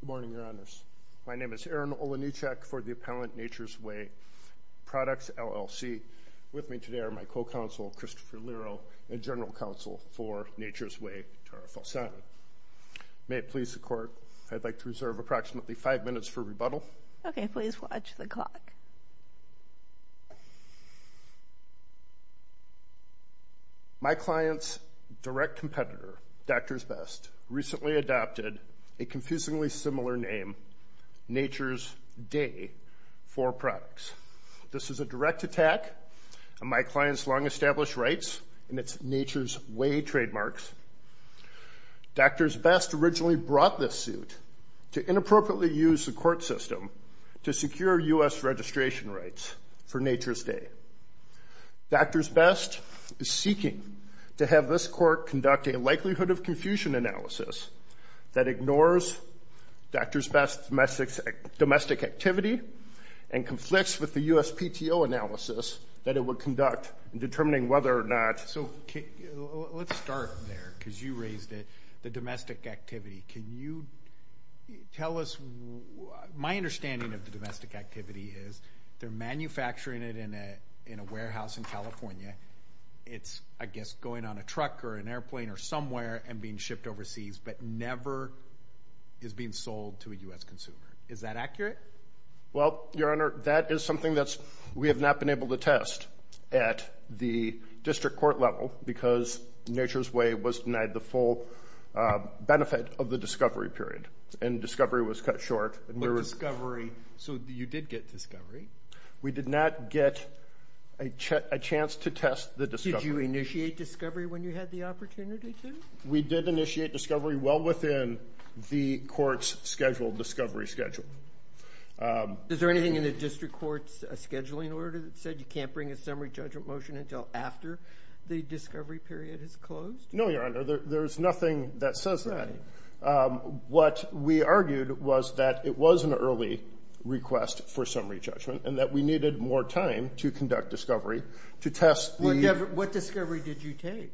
Good morning, Your Honors. My name is Aaron Olanieczak for the appellant Nature's Way Products, LLC. With me today are my co-counsel, Christopher Lerow, and general counsel for Nature's Way, Tara Falsano. May it please the Court, I'd like to reserve approximately five minutes for rebuttal. My client's direct competitor, Doctors Best, recently adopted a confusingly similar name, Nature's Day 4 Products. This is a direct attack on my client's long-established rights and its Nature's Way trademarks. Doctors Best originally brought this suit to inappropriately use the court system to secure U.S. registration rights for Nature's Day. Doctors Best is seeking to have this court conduct a likelihood of confusion analysis that ignores Doctors Best's domestic activity and conflicts with the U.S. determining whether or not... So, let's start there, because you raised it, the domestic activity. Can you tell us... My understanding of the domestic activity is they're manufacturing it in a warehouse in California. It's, I guess, going on a truck or an airplane or somewhere and being shipped overseas, but never is being sold to a U.S. consumer. Is that accurate? Well, Your Honor, that is something that we have not been able to test at the district court level because Nature's Way was denied the full benefit of the discovery period and discovery was cut short. But discovery, so you did get discovery? We did not get a chance to test the discovery. Did you initiate discovery when you had the opportunity to? We did initiate discovery well within the court's scheduled discovery schedule. Is there anything in the district court's scheduling order that said you can't bring a summary judgment motion until after the discovery period is closed? No, Your Honor, there's nothing that says that. What we argued was that it was an early request for summary judgment and that we needed more time to conduct discovery to test the... What discovery did you take?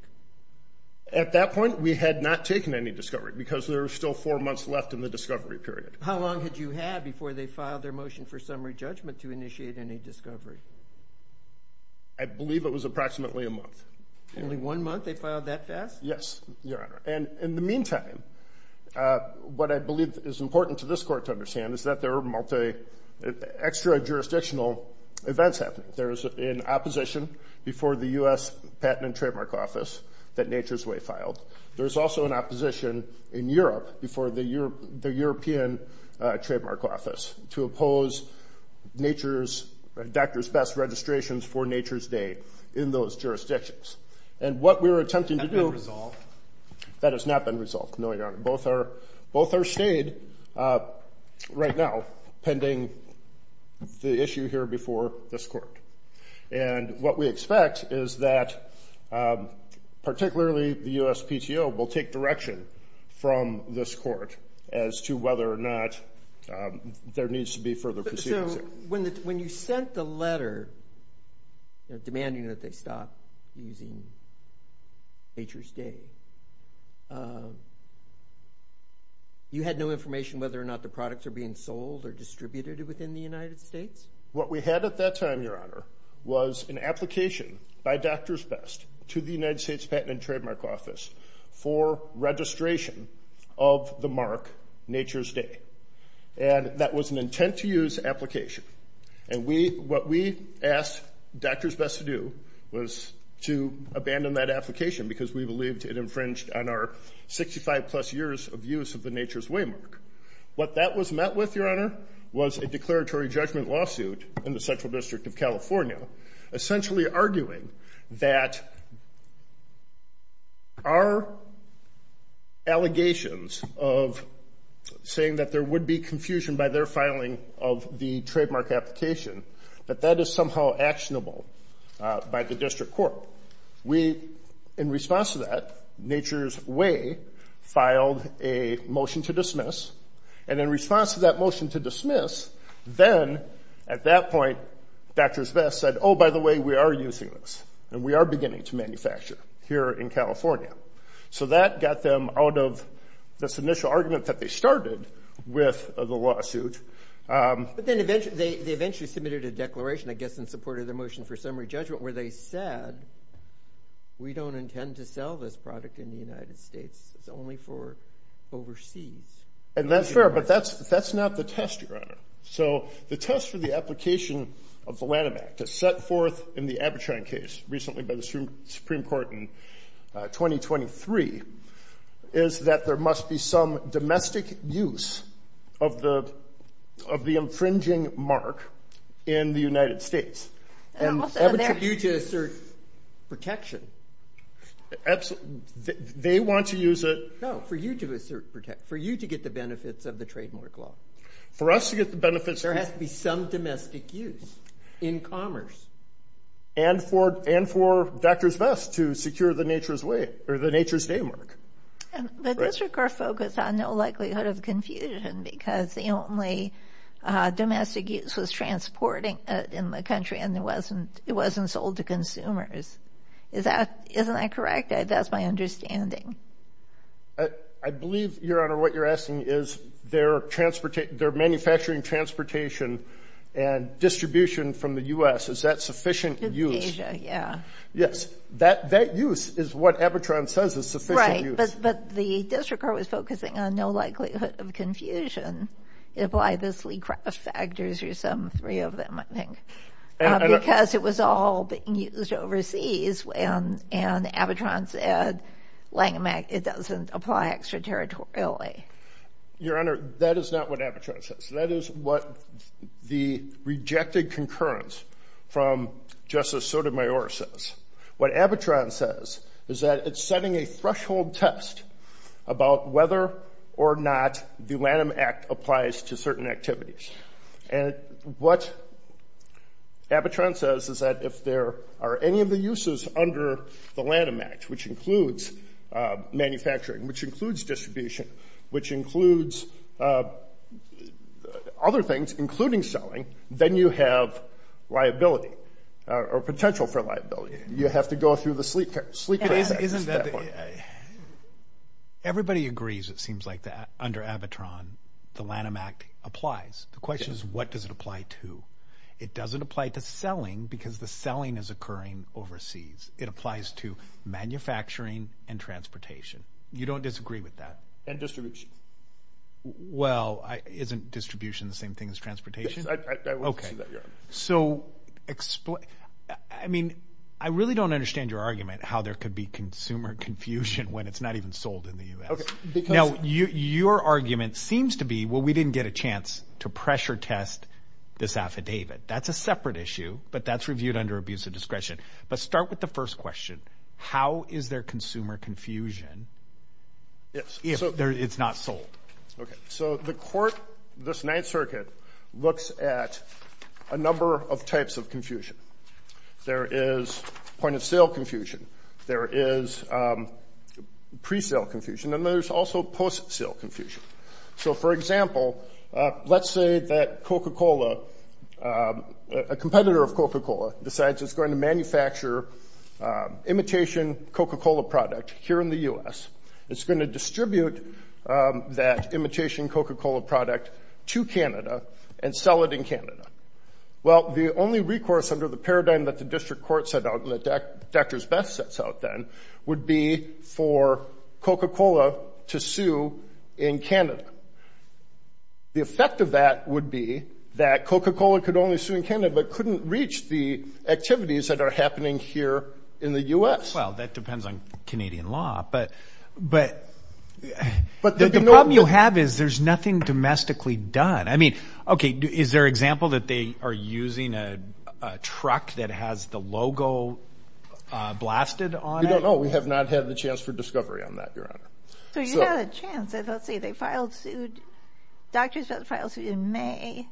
At that point, we had not taken any discovery because there were still four months left in the discovery period. How long did you have before they filed their motion for summary judgment to initiate any discovery? I believe it was approximately a month. Only one month they filed that fast? Yes, Your Honor, and in the meantime, what I believe is important to this court to understand is that there are multi, extra-jurisdictional events happening. There was an opposition before the U.S. Patent and Trademark Office that Nature's Way filed. There's also an opposition in Europe before the European Trademark Office to oppose Nature's... Dr. Best's registrations for Nature's Day in those jurisdictions. What we were attempting to do... Has that been resolved? That has not been resolved, no, Your Honor. Both are stayed right now pending the issue here before this court. What we expect is that particularly the U.S. PTO will take direction from this court as to whether or not there needs to be further proceeding. When you sent the letter demanding that they stop using Nature's Day, you had no information whether or not the products are being sold or distributed within the United States? What we had at that time, Your Honor, was an application by Dr. Best to the United States Patent and Trademark Office for registration of the mark Nature's Day. That was an intent-to-use application. What we asked Dr. Best to do was to abandon that application because we believed it infringed on our 65-plus years of use of the Nature's Way mark. What that was met with, Your Honor, was a declaratory judgment lawsuit in the Central District of California, essentially arguing that our allegations of saying that there would be confusion by their filing of the trademark application, that that is somehow actionable by the district court. In response to that, Nature's Way filed a motion to dismiss. In response to that motion to dismiss, then at that point, Dr. Best said, oh, by the way, we are using this and we are beginning to manufacture here in California. That got them out of this initial argument that they started with the lawsuit. But then they eventually submitted a declaration, I guess, in support of their motion for summary judgment where they said, we don't intend to sell this product in the United States. It's only for overseas. And that's fair, but that's not the test, Your Honor. So the test for the application of the Lanham Act, as set forth in the Abitrine case recently by the Supreme Court in 2023, is that there must be some domestic use of the infringing mark in the United States. And also, they're... And Abitrine is due to assert protection. They want to use it... No, for you to assert protection, for you to get the benefits of the trademark law. For us to get the benefits... There has to be some domestic use in commerce. And for Dr. Best to secure the Nature's Way, or the Nature's Day mark. And the district court focused on no likelihood of confusion because the only domestic use was transporting it in the country, and it wasn't sold to consumers. Isn't that correct? That's my understanding. I believe, Your Honor, what you're asking is their manufacturing, transportation, and distribution from the U.S., is that sufficient use? To Asia, yeah. Yes. That use is what Abitrine says is sufficient use. Right. But the district court was focusing on no likelihood of confusion, if obviously craft factors or some three of them, I think, because it was all being used overseas. And Abitrine said Lanham Act, it doesn't apply extraterritorially. Your Honor, that is not what Abitrine says. That is what the rejected concurrence from Justice Sotomayor says. What Abitrine says is that it's setting a threshold test about whether or not the Lanham Act applies to certain activities. And what Abitrine says is that if there are any of the uses under the Lanham Act, which includes manufacturing, which includes distribution, which includes other things, including selling, then you have liability, or potential for liability. You have to go through the sleep test. Everybody agrees, it seems like, that under Abitrine, the Lanham Act applies. The question is, what does it apply to? It doesn't apply to selling, because the selling is occurring overseas. It applies to manufacturing and transportation. You don't disagree with that? And distribution. Well, isn't distribution the same thing as transportation? Yes, I would say that, Your Honor. So, I mean, I really don't understand your argument, how there could be consumer confusion when it's not even sold in the U.S. Now, your argument seems to be, well, we didn't get a chance to pressure test this affidavit. That's a separate issue, but that's reviewed under abuse of discretion. But start with the first question. How is there consumer confusion if it's not sold? Okay, so the court, this Ninth Circuit, looks at a number of types of confusion. There is point-of-sale confusion. There is pre-sale confusion, and there's also post-sale confusion. So, for example, let's say that Coca-Cola, a competitor of Coca-Cola, decides it's going to manufacture imitation Coca-Cola product here in the U.S. It's going to distribute that imitation Coca-Cola product to Canada and sell it in Canada. Well, the only recourse under the paradigm that the district court set out and that Drs. Best sets out then would be for Coca-Cola to sue in Canada. The effect of that would be that Coca-Cola could only sue in Canada but couldn't reach the activities that are happening here in the U.S. Well, that depends on Canadian law, but the problem you have is there's nothing domestically done. I mean, okay, is there an example that they are using a truck that has the logo blasted on it? We don't know. We have not had the chance for discovery on that, Your Honor. So you had a chance. Let's see, they filed suit, Drs. Best filed suit in May,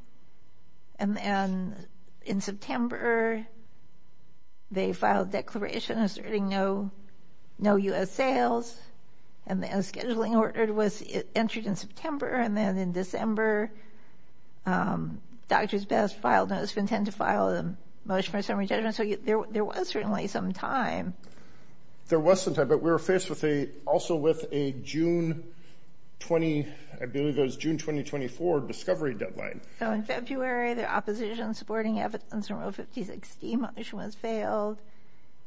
and in September they filed declaration asserting no U.S. sales, and then a scheduling order was entered in September, and then in December, Drs. Best filed a notice of intent to file a motion for a summary judgment. So there was certainly some time. There was some time, but we were faced also with a June 20, I believe it was June 2024, discovery deadline. So in February, the opposition supporting evidence from Rule 50-60 motion was failed,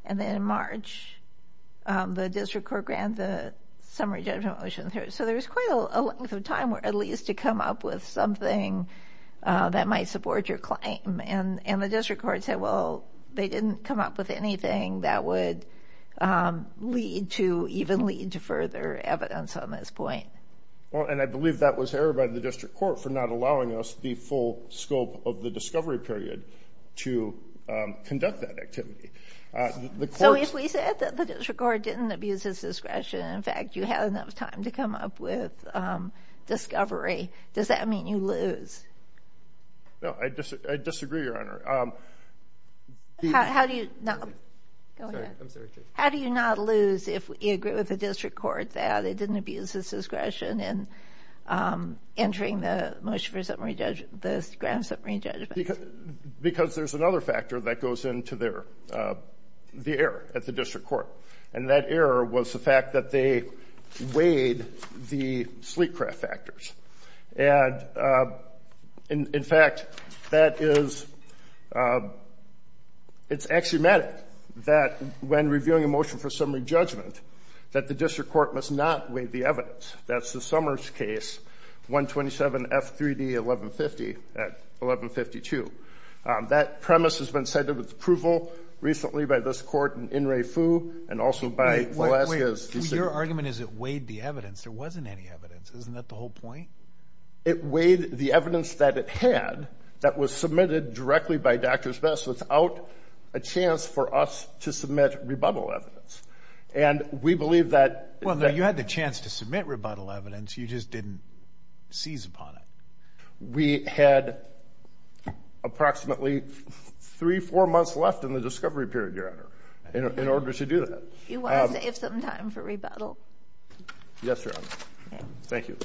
and then in March, the district court granted a summary judgment motion. So there was quite a length of time at least to come up with something that might support your claim, and the district court said, well, they didn't come up with anything that would lead to, even lead to further evidence on this point. Well, and I believe that was errored by the district court for not allowing us the full scope of the discovery period to conduct that activity. So if we said that the district court didn't abuse its discretion, in fact, you had enough time to come up with discovery, does that mean you lose? No, I disagree, Your Honor. How do you not lose if you agree with the district court that it didn't abuse its discretion in entering the motion for the grand summary judgment? Because there's another factor that goes into the error at the district court, and that error was the fact that they weighed the sleek craft factors. And in fact, that is, it's axiomatic that when reviewing a motion for summary judgment, that the district court must not weigh the evidence. That's the Summers case, 127 F3D 1150 at 1152. That premise has been cited with approval recently by this court in In-Re-Fu and also by Velasquez. Your argument is it weighed the evidence. There wasn't any evidence. Isn't that the whole point? It weighed the evidence that it had that was submitted directly by Drs. Best without a chance for us to submit rebuttal evidence. And we believe that. Well, you had the chance to submit rebuttal evidence. You just didn't seize upon it. We had approximately three, four months left in the discovery period, Your Honor, in order to do that. You want to save some time for rebuttal? Yes, Your Honor. Thank you.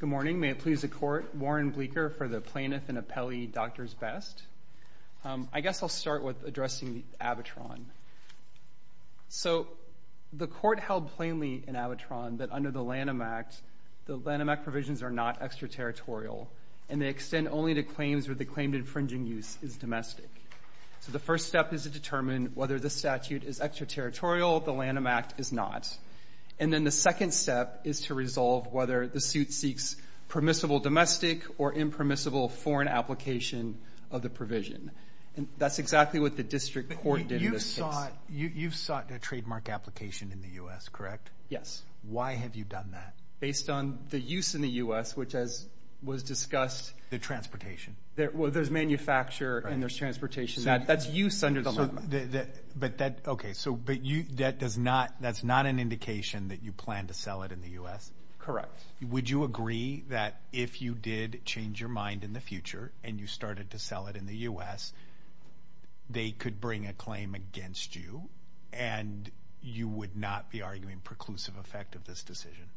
Good morning. May it please the Court, Warren Bleeker for the plaintiff and appellee, Drs. Best. I guess I'll start with addressing the abitron. So the Court held plainly in abitron that under the Lanham Act, the Lanham Act provisions are not extraterritorial. And they extend only to claims where the claim to infringing use is domestic. So the first step is to determine whether the statute is extraterritorial. The Lanham Act is not. And then the second step is to resolve whether the suit seeks permissible domestic or impermissible foreign application of the provision. And that's exactly what the district court did in this case. You've sought a trademark application in the U.S., correct? Yes. Why have you done that? Based on the use in the U.S., which as was discussed. The transportation. Well, there's manufacture and there's transportation. That's use under the Lanham Act. But that, okay, so but you, that does not, that's not an indication that you plan to sell it in the U.S.? Correct. Would you agree that if you did change your mind in the future and you started to sell it in the U.S., they could bring a claim against you and you would not be arguing preclusive effect of this decision?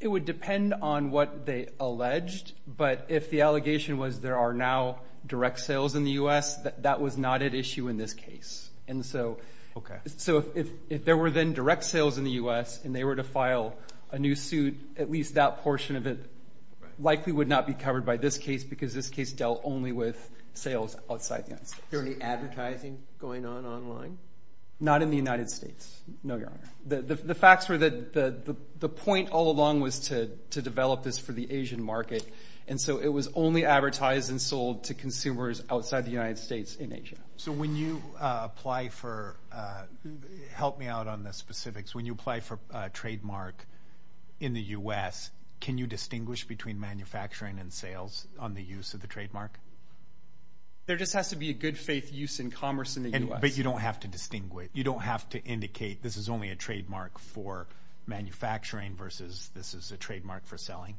It would depend on what they alleged. But if the allegation was there are now direct sales in the U.S., that was not at issue in this case. And so, so if there were then direct sales in the U.S. and they were to file a new suit, at least that portion of it likely would not be covered by this case because this case dealt only with sales outside the United States. Is there any advertising going on online? Not in the United States, no, Your Honor. The facts were that the point all along was to develop this for the Asian market. And so it was only advertised and sold to consumers outside the United States in Asia. So when you apply for, help me out on the specifics. When you apply for a trademark in the U.S., can you distinguish between manufacturing and sales on the use of the trademark? There just has to be a good faith use in commerce in the U.S. But you don't have to distinguish. You don't have to indicate this is only a trademark for manufacturing versus this is a trademark for selling?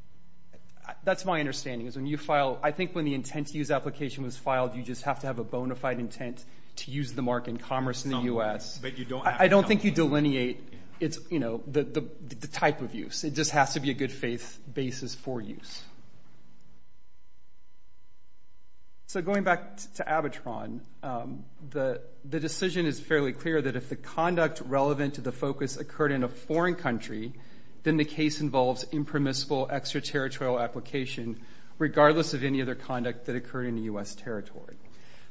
That's my understanding is when you file, I think when the intent to use application was filed, you just have to have a bona fide intent to use the mark in commerce in the U.S. But you don't. I don't think you delineate. It's, you know, the type of use. It just has to be a good faith basis for use. So going back to Abitron, the decision is fairly clear that if the conduct relevant to the focus occurred in a foreign country, then the case involves impermissible extraterritorial application, regardless of any other conduct that occurred in the U.S. territory.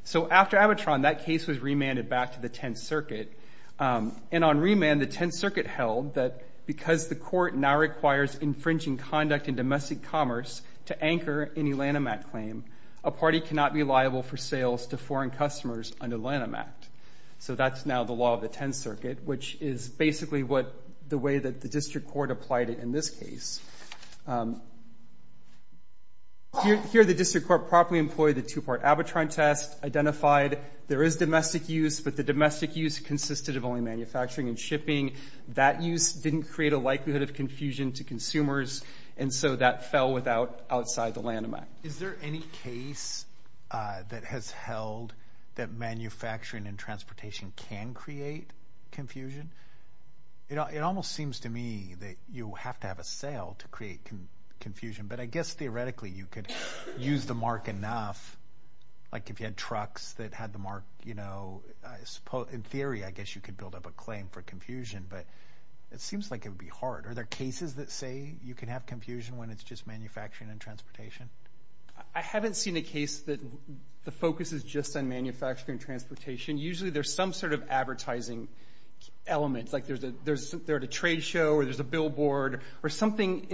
So after Abitron, that case was remanded back to the Tenth Circuit. And on remand, the Tenth Circuit held that because the court now requires infringing conduct in domestic commerce to anchor any Lanham Act claim, a party cannot be liable for sales to foreign customers under Lanham Act. So that's now the law of the Tenth Circuit, which is basically what the way that the district court applied it in this case. Here, the district court properly employed the two-part Abitron test, identified there is domestic use. But the domestic use consisted of only manufacturing and shipping. That use didn't create a likelihood of confusion to consumers. And so that fell without outside the Lanham Act. Is there any case that has held that manufacturing and transportation can create confusion? It almost seems to me that you have to have a sale to create confusion. But I guess theoretically, you could use the mark enough, like if you had trucks that had the mark, you know, in theory, I guess you could build up a claim for confusion. But it seems like it would be hard. Are there cases that say you can have confusion when it's just manufacturing and transportation? I haven't seen a case that the focus is just on manufacturing and transportation. Usually, there's some sort of advertising element, like there's a trade show or there's a billboard or something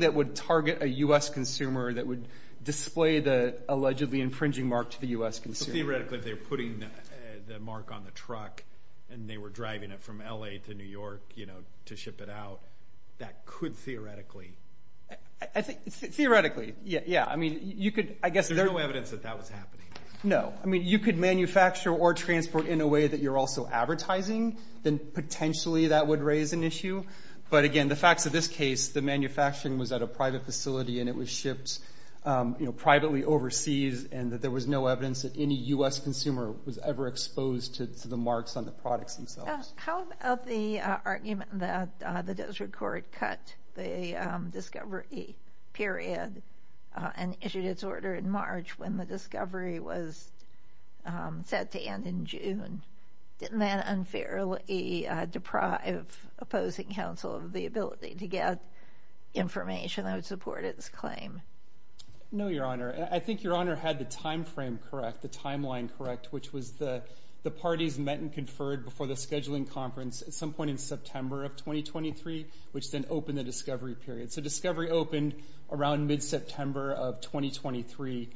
that would target a U.S. consumer that would display the allegedly infringing mark to the U.S. consumer. Theoretically, if they're putting the mark on the truck and they were driving it from L.A. to New York, you know, to ship it out, that could theoretically. Theoretically, yeah. I mean, you could, I guess. There's no evidence that that was happening. No, I mean, you could manufacture or transport in a way that you're also advertising, then potentially that would raise an issue. But again, the facts of this case, the manufacturing was at a private facility and it was shipped privately overseas and that there was no evidence that any U.S. consumer was ever exposed to the marks on the products themselves. How about the argument that the desert court cut the discovery period and issued its order in March when the discovery was set to end in June? Didn't that unfairly deprive opposing counsel of the ability to get information that would support its claim? No, Your Honor. I think Your Honor had the timeframe correct, the timeline correct, which was the parties met and conferred before the scheduling conference at some point in September of 2023, which then opened the discovery period. So discovery opened around mid-September of 2023.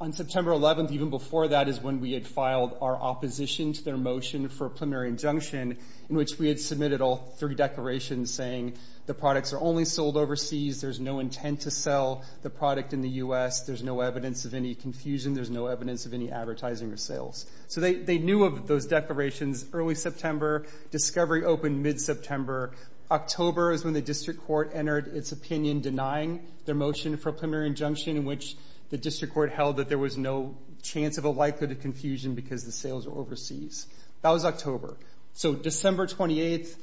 On September 11th, even before that, is when we had filed our opposition to their motion for a preliminary injunction in which we had submitted all three declarations saying the products are only sold overseas. There's no intent to sell the product in the U.S. There's no evidence of any confusion. There's no evidence of any advertising or sales. So they knew of those declarations early September. Discovery opened mid-September. October is when the district court entered its opinion denying their motion for a preliminary injunction in which the district court held that there was no chance of a likelihood of confusion because the sales were overseas. That was October. So December 28th,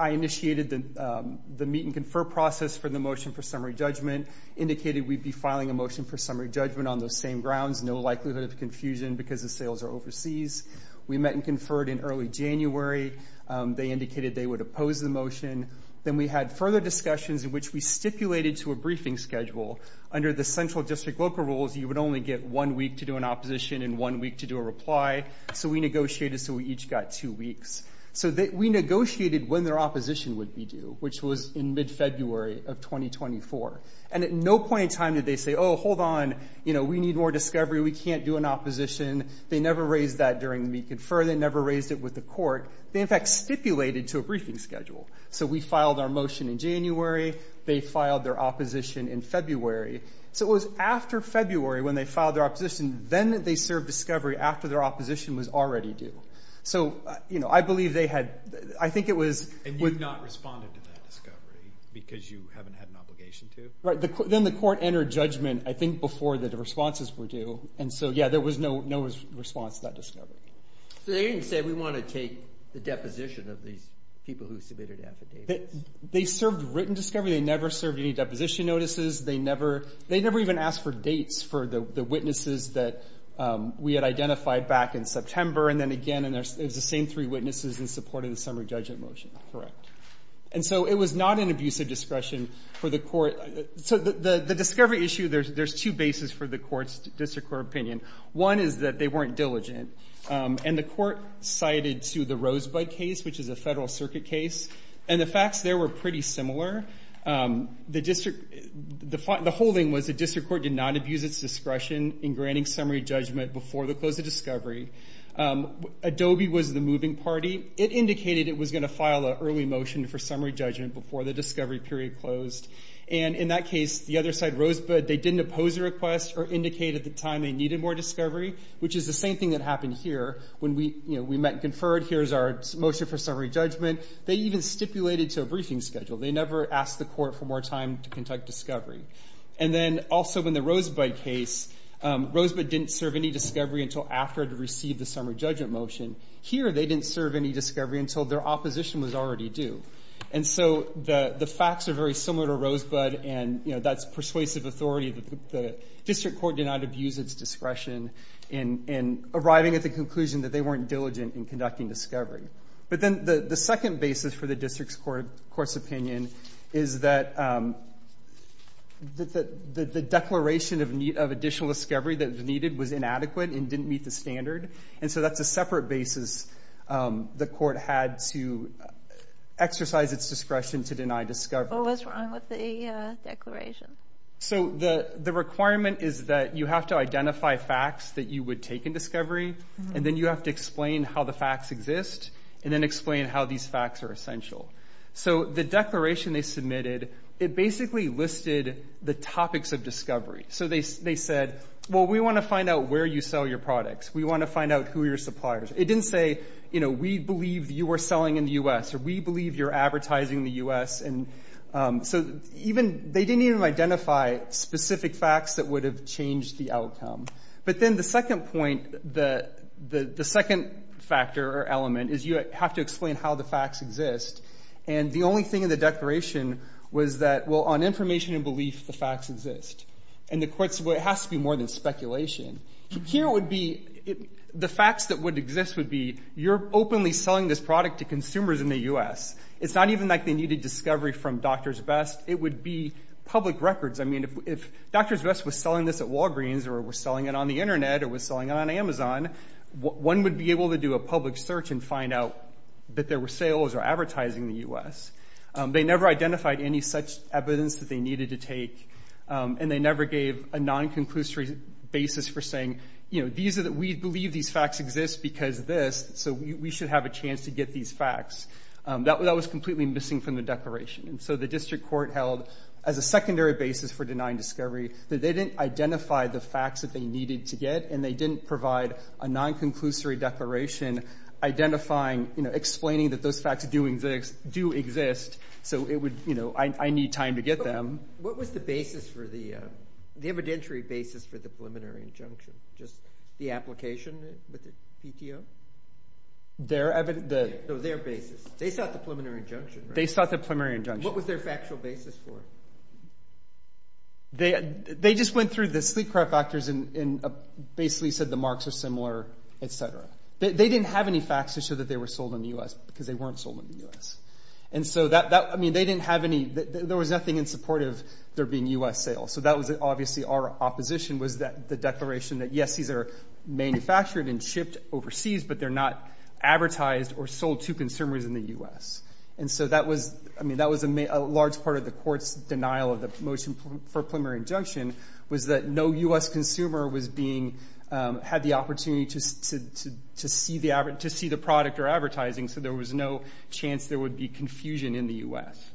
I initiated the meet and confer process for the motion for summary judgment, indicated we'd be filing a motion for summary judgment on those same grounds, no likelihood of confusion because the sales are overseas. We met and conferred in early January. They indicated they would oppose the motion. Then we had further discussions in which we stipulated to a briefing schedule. Under the central district local rules, you would only get one week to do an opposition and one week to do a reply. So we negotiated. So we each got two weeks. So we negotiated when their opposition would be due, which was in mid-February of 2024. And at no point in time did they say, oh, hold on, you know, we need more discovery. We can't do an opposition. They never raised that during the meet and confer. They never raised it with the court. They, in fact, stipulated to a briefing schedule. So we filed our motion in January. They filed their opposition in February. So it was after February when they filed their opposition. Then they served discovery after their opposition was already due. So, you know, I believe they had, I think it was. And you not responded to that discovery because you haven't had an obligation to? Right. Then the court entered judgment, I think, before the responses were due. And so, yeah, there was no response to that discovery. So they didn't say we want to take the deposition of these people who submitted affidavits. They served written discovery. They never served any deposition notices. They never even asked for dates for the witnesses that we had identified back in September. And then again, and there's the same three witnesses in support of the summary judgment motion. And so it was not an abuse of discretion for the court. So the discovery issue, there's two bases for the court's district court opinion. One is that they weren't diligent. And the court cited to the Rosebud case, which is a federal circuit case. And the facts there were pretty similar. The district, the whole thing was the district court did not abuse its discretion in granting summary judgment before the close of discovery. Adobe was the moving party. It indicated it was going to file an early motion for summary judgment before the discovery period closed. And in that case, the other side, Rosebud, they didn't oppose the request or indicate at the time they needed more discovery, which is the same thing that happened here. When we, you know, we met and conferred, here's our motion for summary judgment. They even stipulated to a briefing schedule. They never asked the court for more time to conduct discovery. And then also in the Rosebud case, Rosebud didn't serve any discovery until after it received the summary judgment motion. Here, they didn't serve any discovery until their opposition was already due. And so the facts are very similar to Rosebud and, you know, that's persuasive authority that the district court did not abuse its discretion in arriving at the conclusion that they weren't diligent in conducting discovery. But then the second basis for the district's court's opinion is that the declaration of additional discovery that was needed was inadequate and didn't meet the standard. And so that's a separate basis the court had to exercise its discretion to deny discovery. What was wrong with the declaration? So the requirement is that you have to identify facts that you would take in discovery. And then you have to explain how the facts exist. And then explain how these facts are essential. So the declaration they submitted, it basically listed the topics of discovery. So they said, well, we want to find out where you sell your products. We want to find out who are your suppliers. It didn't say, you know, we believe you are selling in the U.S. or we believe you're advertising in the U.S. And so even, they didn't even identify specific facts that would have changed the outcome. But then the second point, the second factor or element is you have to explain how the facts exist. And the only thing in the declaration was that, well, on information and belief, the facts exist. And the court said, well, it has to be more than speculation. Here would be, the facts that would exist would be you're openly selling this product to consumers in the U.S. It's not even like they needed discovery from Drs. Best. It would be public records. I mean, if Drs. Best was selling this at Walgreens or was selling it on the internet or was selling it on Amazon, one would be able to do a public search and find out that there were sales or advertising in the U.S. They never identified any such evidence that they needed to take. And they never gave a non-conclusory basis for saying, you know, these are, we believe these facts exist because of this. So we should have a chance to get these facts. That was completely missing from the declaration. And so the district court held as a secondary basis for denying discovery that they didn't identify the facts that they needed to get and they didn't provide a non-conclusory declaration identifying, you know, explaining that those facts do exist. So it would, you know, I need time to get them. What was the basis for the, the evidentiary basis for the preliminary injunction? Just the application with the PTO? Their, their basis. They sought the preliminary injunction, right? They sought the preliminary injunction. What was their factual basis for? They, they just went through the sleep craft factors and basically said the marks are similar, et cetera. They didn't have any facts to show that they were sold in the U.S. because they weren't sold in the U.S. And so that, that, I mean, they didn't have any, there was nothing in support of there being U.S. sales. So that was obviously our opposition was that the declaration that, yes, these are manufactured and shipped overseas, but they're not advertised or sold to consumers in the U.S. And so that was, I mean, that was a, a large part of the court's denial of the motion for preliminary injunction was that no U.S. consumer was being, had the opportunity to, to, to see the, to see the product or advertising. So there was no chance there would be confusion in the U.S.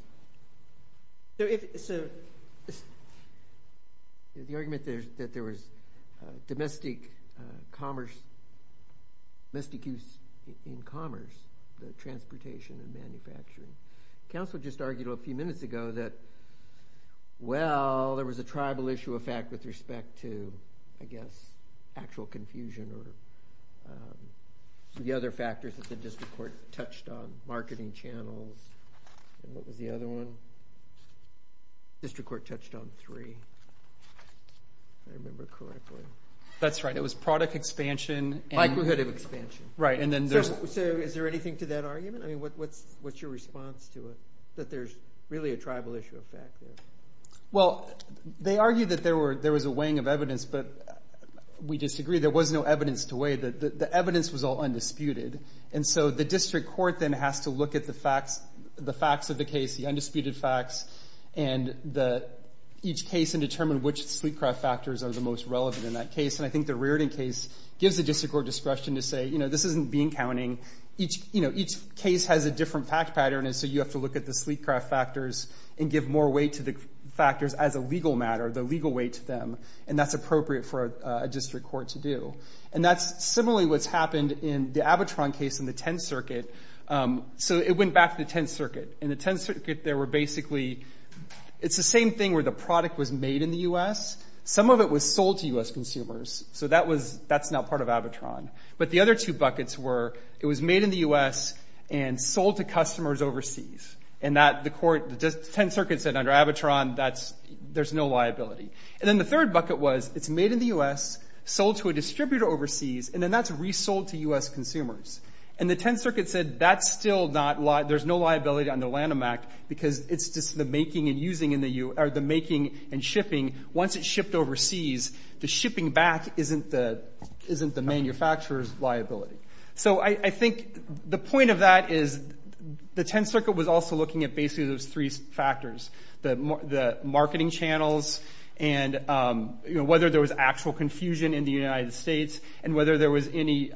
So if, so the argument there's, that there was domestic commerce, domestic use in commerce, the transportation and manufacturing. Council just argued a few minutes ago that, well, there was a tribal issue effect with respect to, I guess, actual confusion or the other factors that the district court touched on, marketing channels. And what was the other one? District court touched on three. If I remember correctly. That's right. It was product expansion. Likelihood of expansion. Right. And then there's. So, so is there anything to that argument? I mean, what, what's, what's your response to it? That there's really a tribal issue effect. Well, they argued that there were, there was a weighing of evidence, but we disagree. There was no evidence to weigh that the evidence was all undisputed. And so the district court then has to look at the facts, the facts of the case, the undisputed facts and the, each case and determine which sweet craft factors are the most relevant in that case. And I think the Reardon case gives the district court discretion to say, you know, this isn't being counting each, you know, each case has a different fact pattern. And so you have to look at the sleek craft factors and give more weight to the factors as a legal matter, the legal weight to them. And that's appropriate for a district court to do. And that's similarly what's happened in the Abitron case in the 10th circuit. So it went back to the 10th circuit and the 10th circuit. There were basically, it's the same thing where the product was made in the U.S. Some of it was sold to U.S. So that was, that's not part of Abitron. But the other two buckets were, it was made in the U.S. and sold to customers overseas and that the court, the 10th circuit said under Abitron, that's, there's no liability. And then the third bucket was, it's made in the U.S., sold to a distributor overseas, and then that's resold to U.S. consumers. And the 10th circuit said, that's still not, there's no liability under Lanham Act because it's just the making and using in the, or the making and shipping once it's shipped overseas, the shipping back isn't the, isn't the manufacturer's So I think the point of that is the 10th circuit was also looking at basically those three factors, the marketing channels and whether there was actual confusion in the United States and whether there was any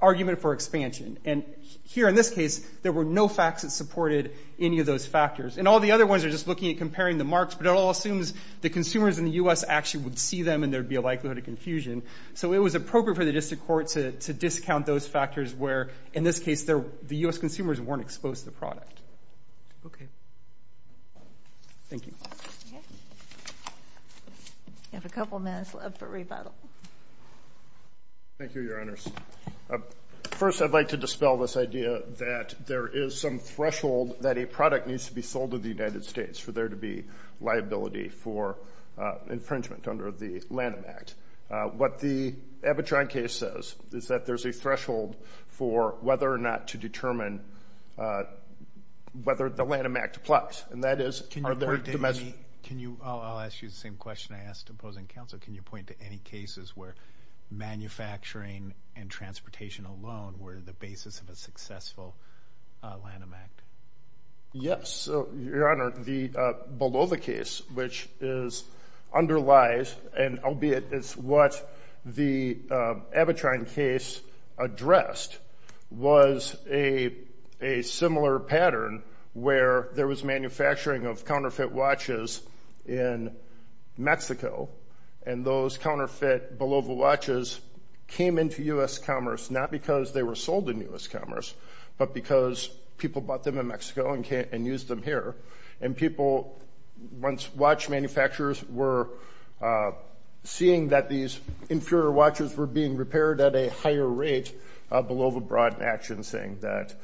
argument for expansion. And here in this case, there were no facts that supported any of those factors. And all the other ones are just looking at comparing the marks, but it all assumes the consumers in the U.S. actually would see them and there'd be a likelihood of confusion. So it was appropriate for the district court to discount those factors where in this case, the U.S. consumers weren't exposed to the product. Okay. Thank you. You have a couple minutes left for rebuttal. Thank you, Your Honors. First, I'd like to dispel this idea that there is some threshold that a product needs to be sold in the United States for there to be liability for infringement under the Lanham Act. What the Abitron case says is that there's a threshold for whether or not to determine whether the Lanham Act applies. And that is, are there domestic... Can you, I'll ask you the same question I asked opposing counsel. Can you point to any cases where manufacturing and transportation alone were the basis of a successful Lanham Act? Yes, Your Honor. The Bolova case, which is underlies, and albeit it's what the Abitron case addressed, was a similar pattern where there was manufacturing of counterfeit watches in Mexico. And those counterfeit Bolova watches came into U.S. commerce, not because they were sold in U.S. but because they were sold in Mexico and used them here. And people, once watch manufacturers were seeing that these inferior watches were being repaired at a higher rate, Bolova brought an action saying that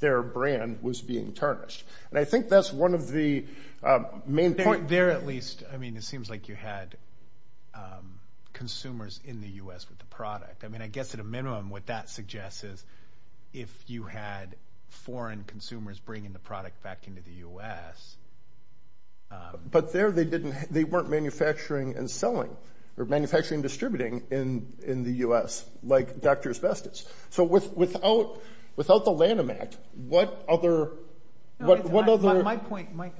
their brand was being tarnished. And I think that's one of the main point... There at least, I mean, it seems like you had consumers in the U.S. with the product. I mean, I guess at a minimum, what that suggests is if you had foreign consumers bringing the product back into the U.S. But there they weren't manufacturing and selling or manufacturing and distributing in the U.S. like Dr. Asbestos. So without the Lanham Act, what other... My point, Mike,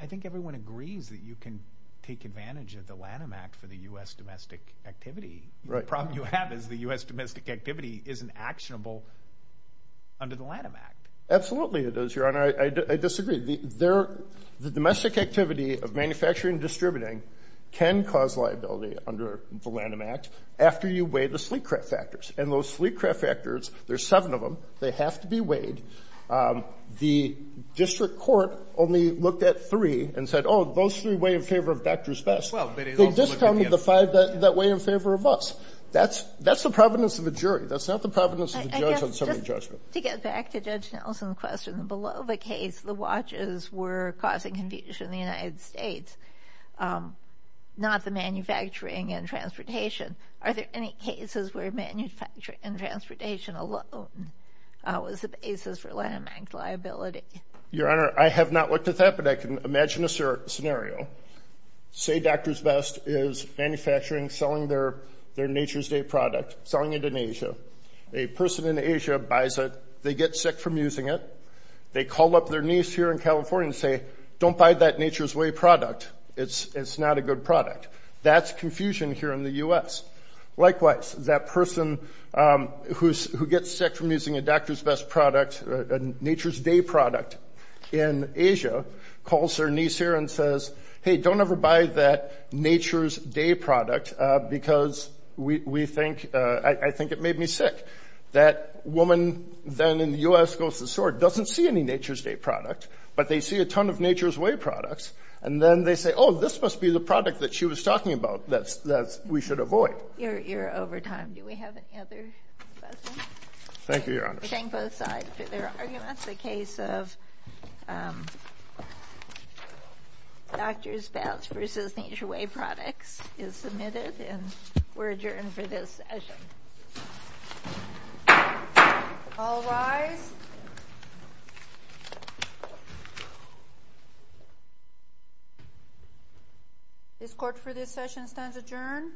I think everyone agrees that you can take advantage of the Lanham Act for the U.S. domestic activity. The problem you have is the U.S. domestic activity isn't actionable under the Lanham Act. Absolutely it is, Your Honor. I disagree. The domestic activity of manufacturing and distributing can cause liability under the Lanham Act after you weigh the sleek craft factors. And those sleek craft factors, there's seven of them. They have to be weighed. The district court only looked at three and said, oh, those three weigh in favor of Dr. Asbestos. They discounted the five that weigh in favor of us. That's the providence of a jury. That's not the providence of a judge on summary judgment. To get back to Judge Nelson's question, below the case, the watches were causing confusion in the United States, not the manufacturing and Are there any cases where manufacturing and transportation alone was the basis for Lanham Act liability? Your Honor, I have not looked at that, but I can imagine a scenario. Say Dr's Best is manufacturing, selling their Nature's Day product, selling it in Asia. A person in Asia buys it. They get sick from using it. They call up their niece here in California and say, don't buy that Nature's Way product. It's not a good product. That's confusion here in the U.S. Likewise, that person who gets sick from using a Dr's Best product, a Hey, don't ever buy that Nature's Day product because we think, I think it made me sick. That woman then in the U.S. goes to the store, doesn't see any Nature's Day product, but they see a ton of Nature's Way products. And then they say, oh, this must be the product that she was talking about that we should avoid. You're over time. Do we have any other questions? Thank you, Your Honor. Thank both sides for their arguments. The case of Dr's Best versus Nature's Way products is submitted and we're adjourned for this session. All rise. This court for this session stands adjourned.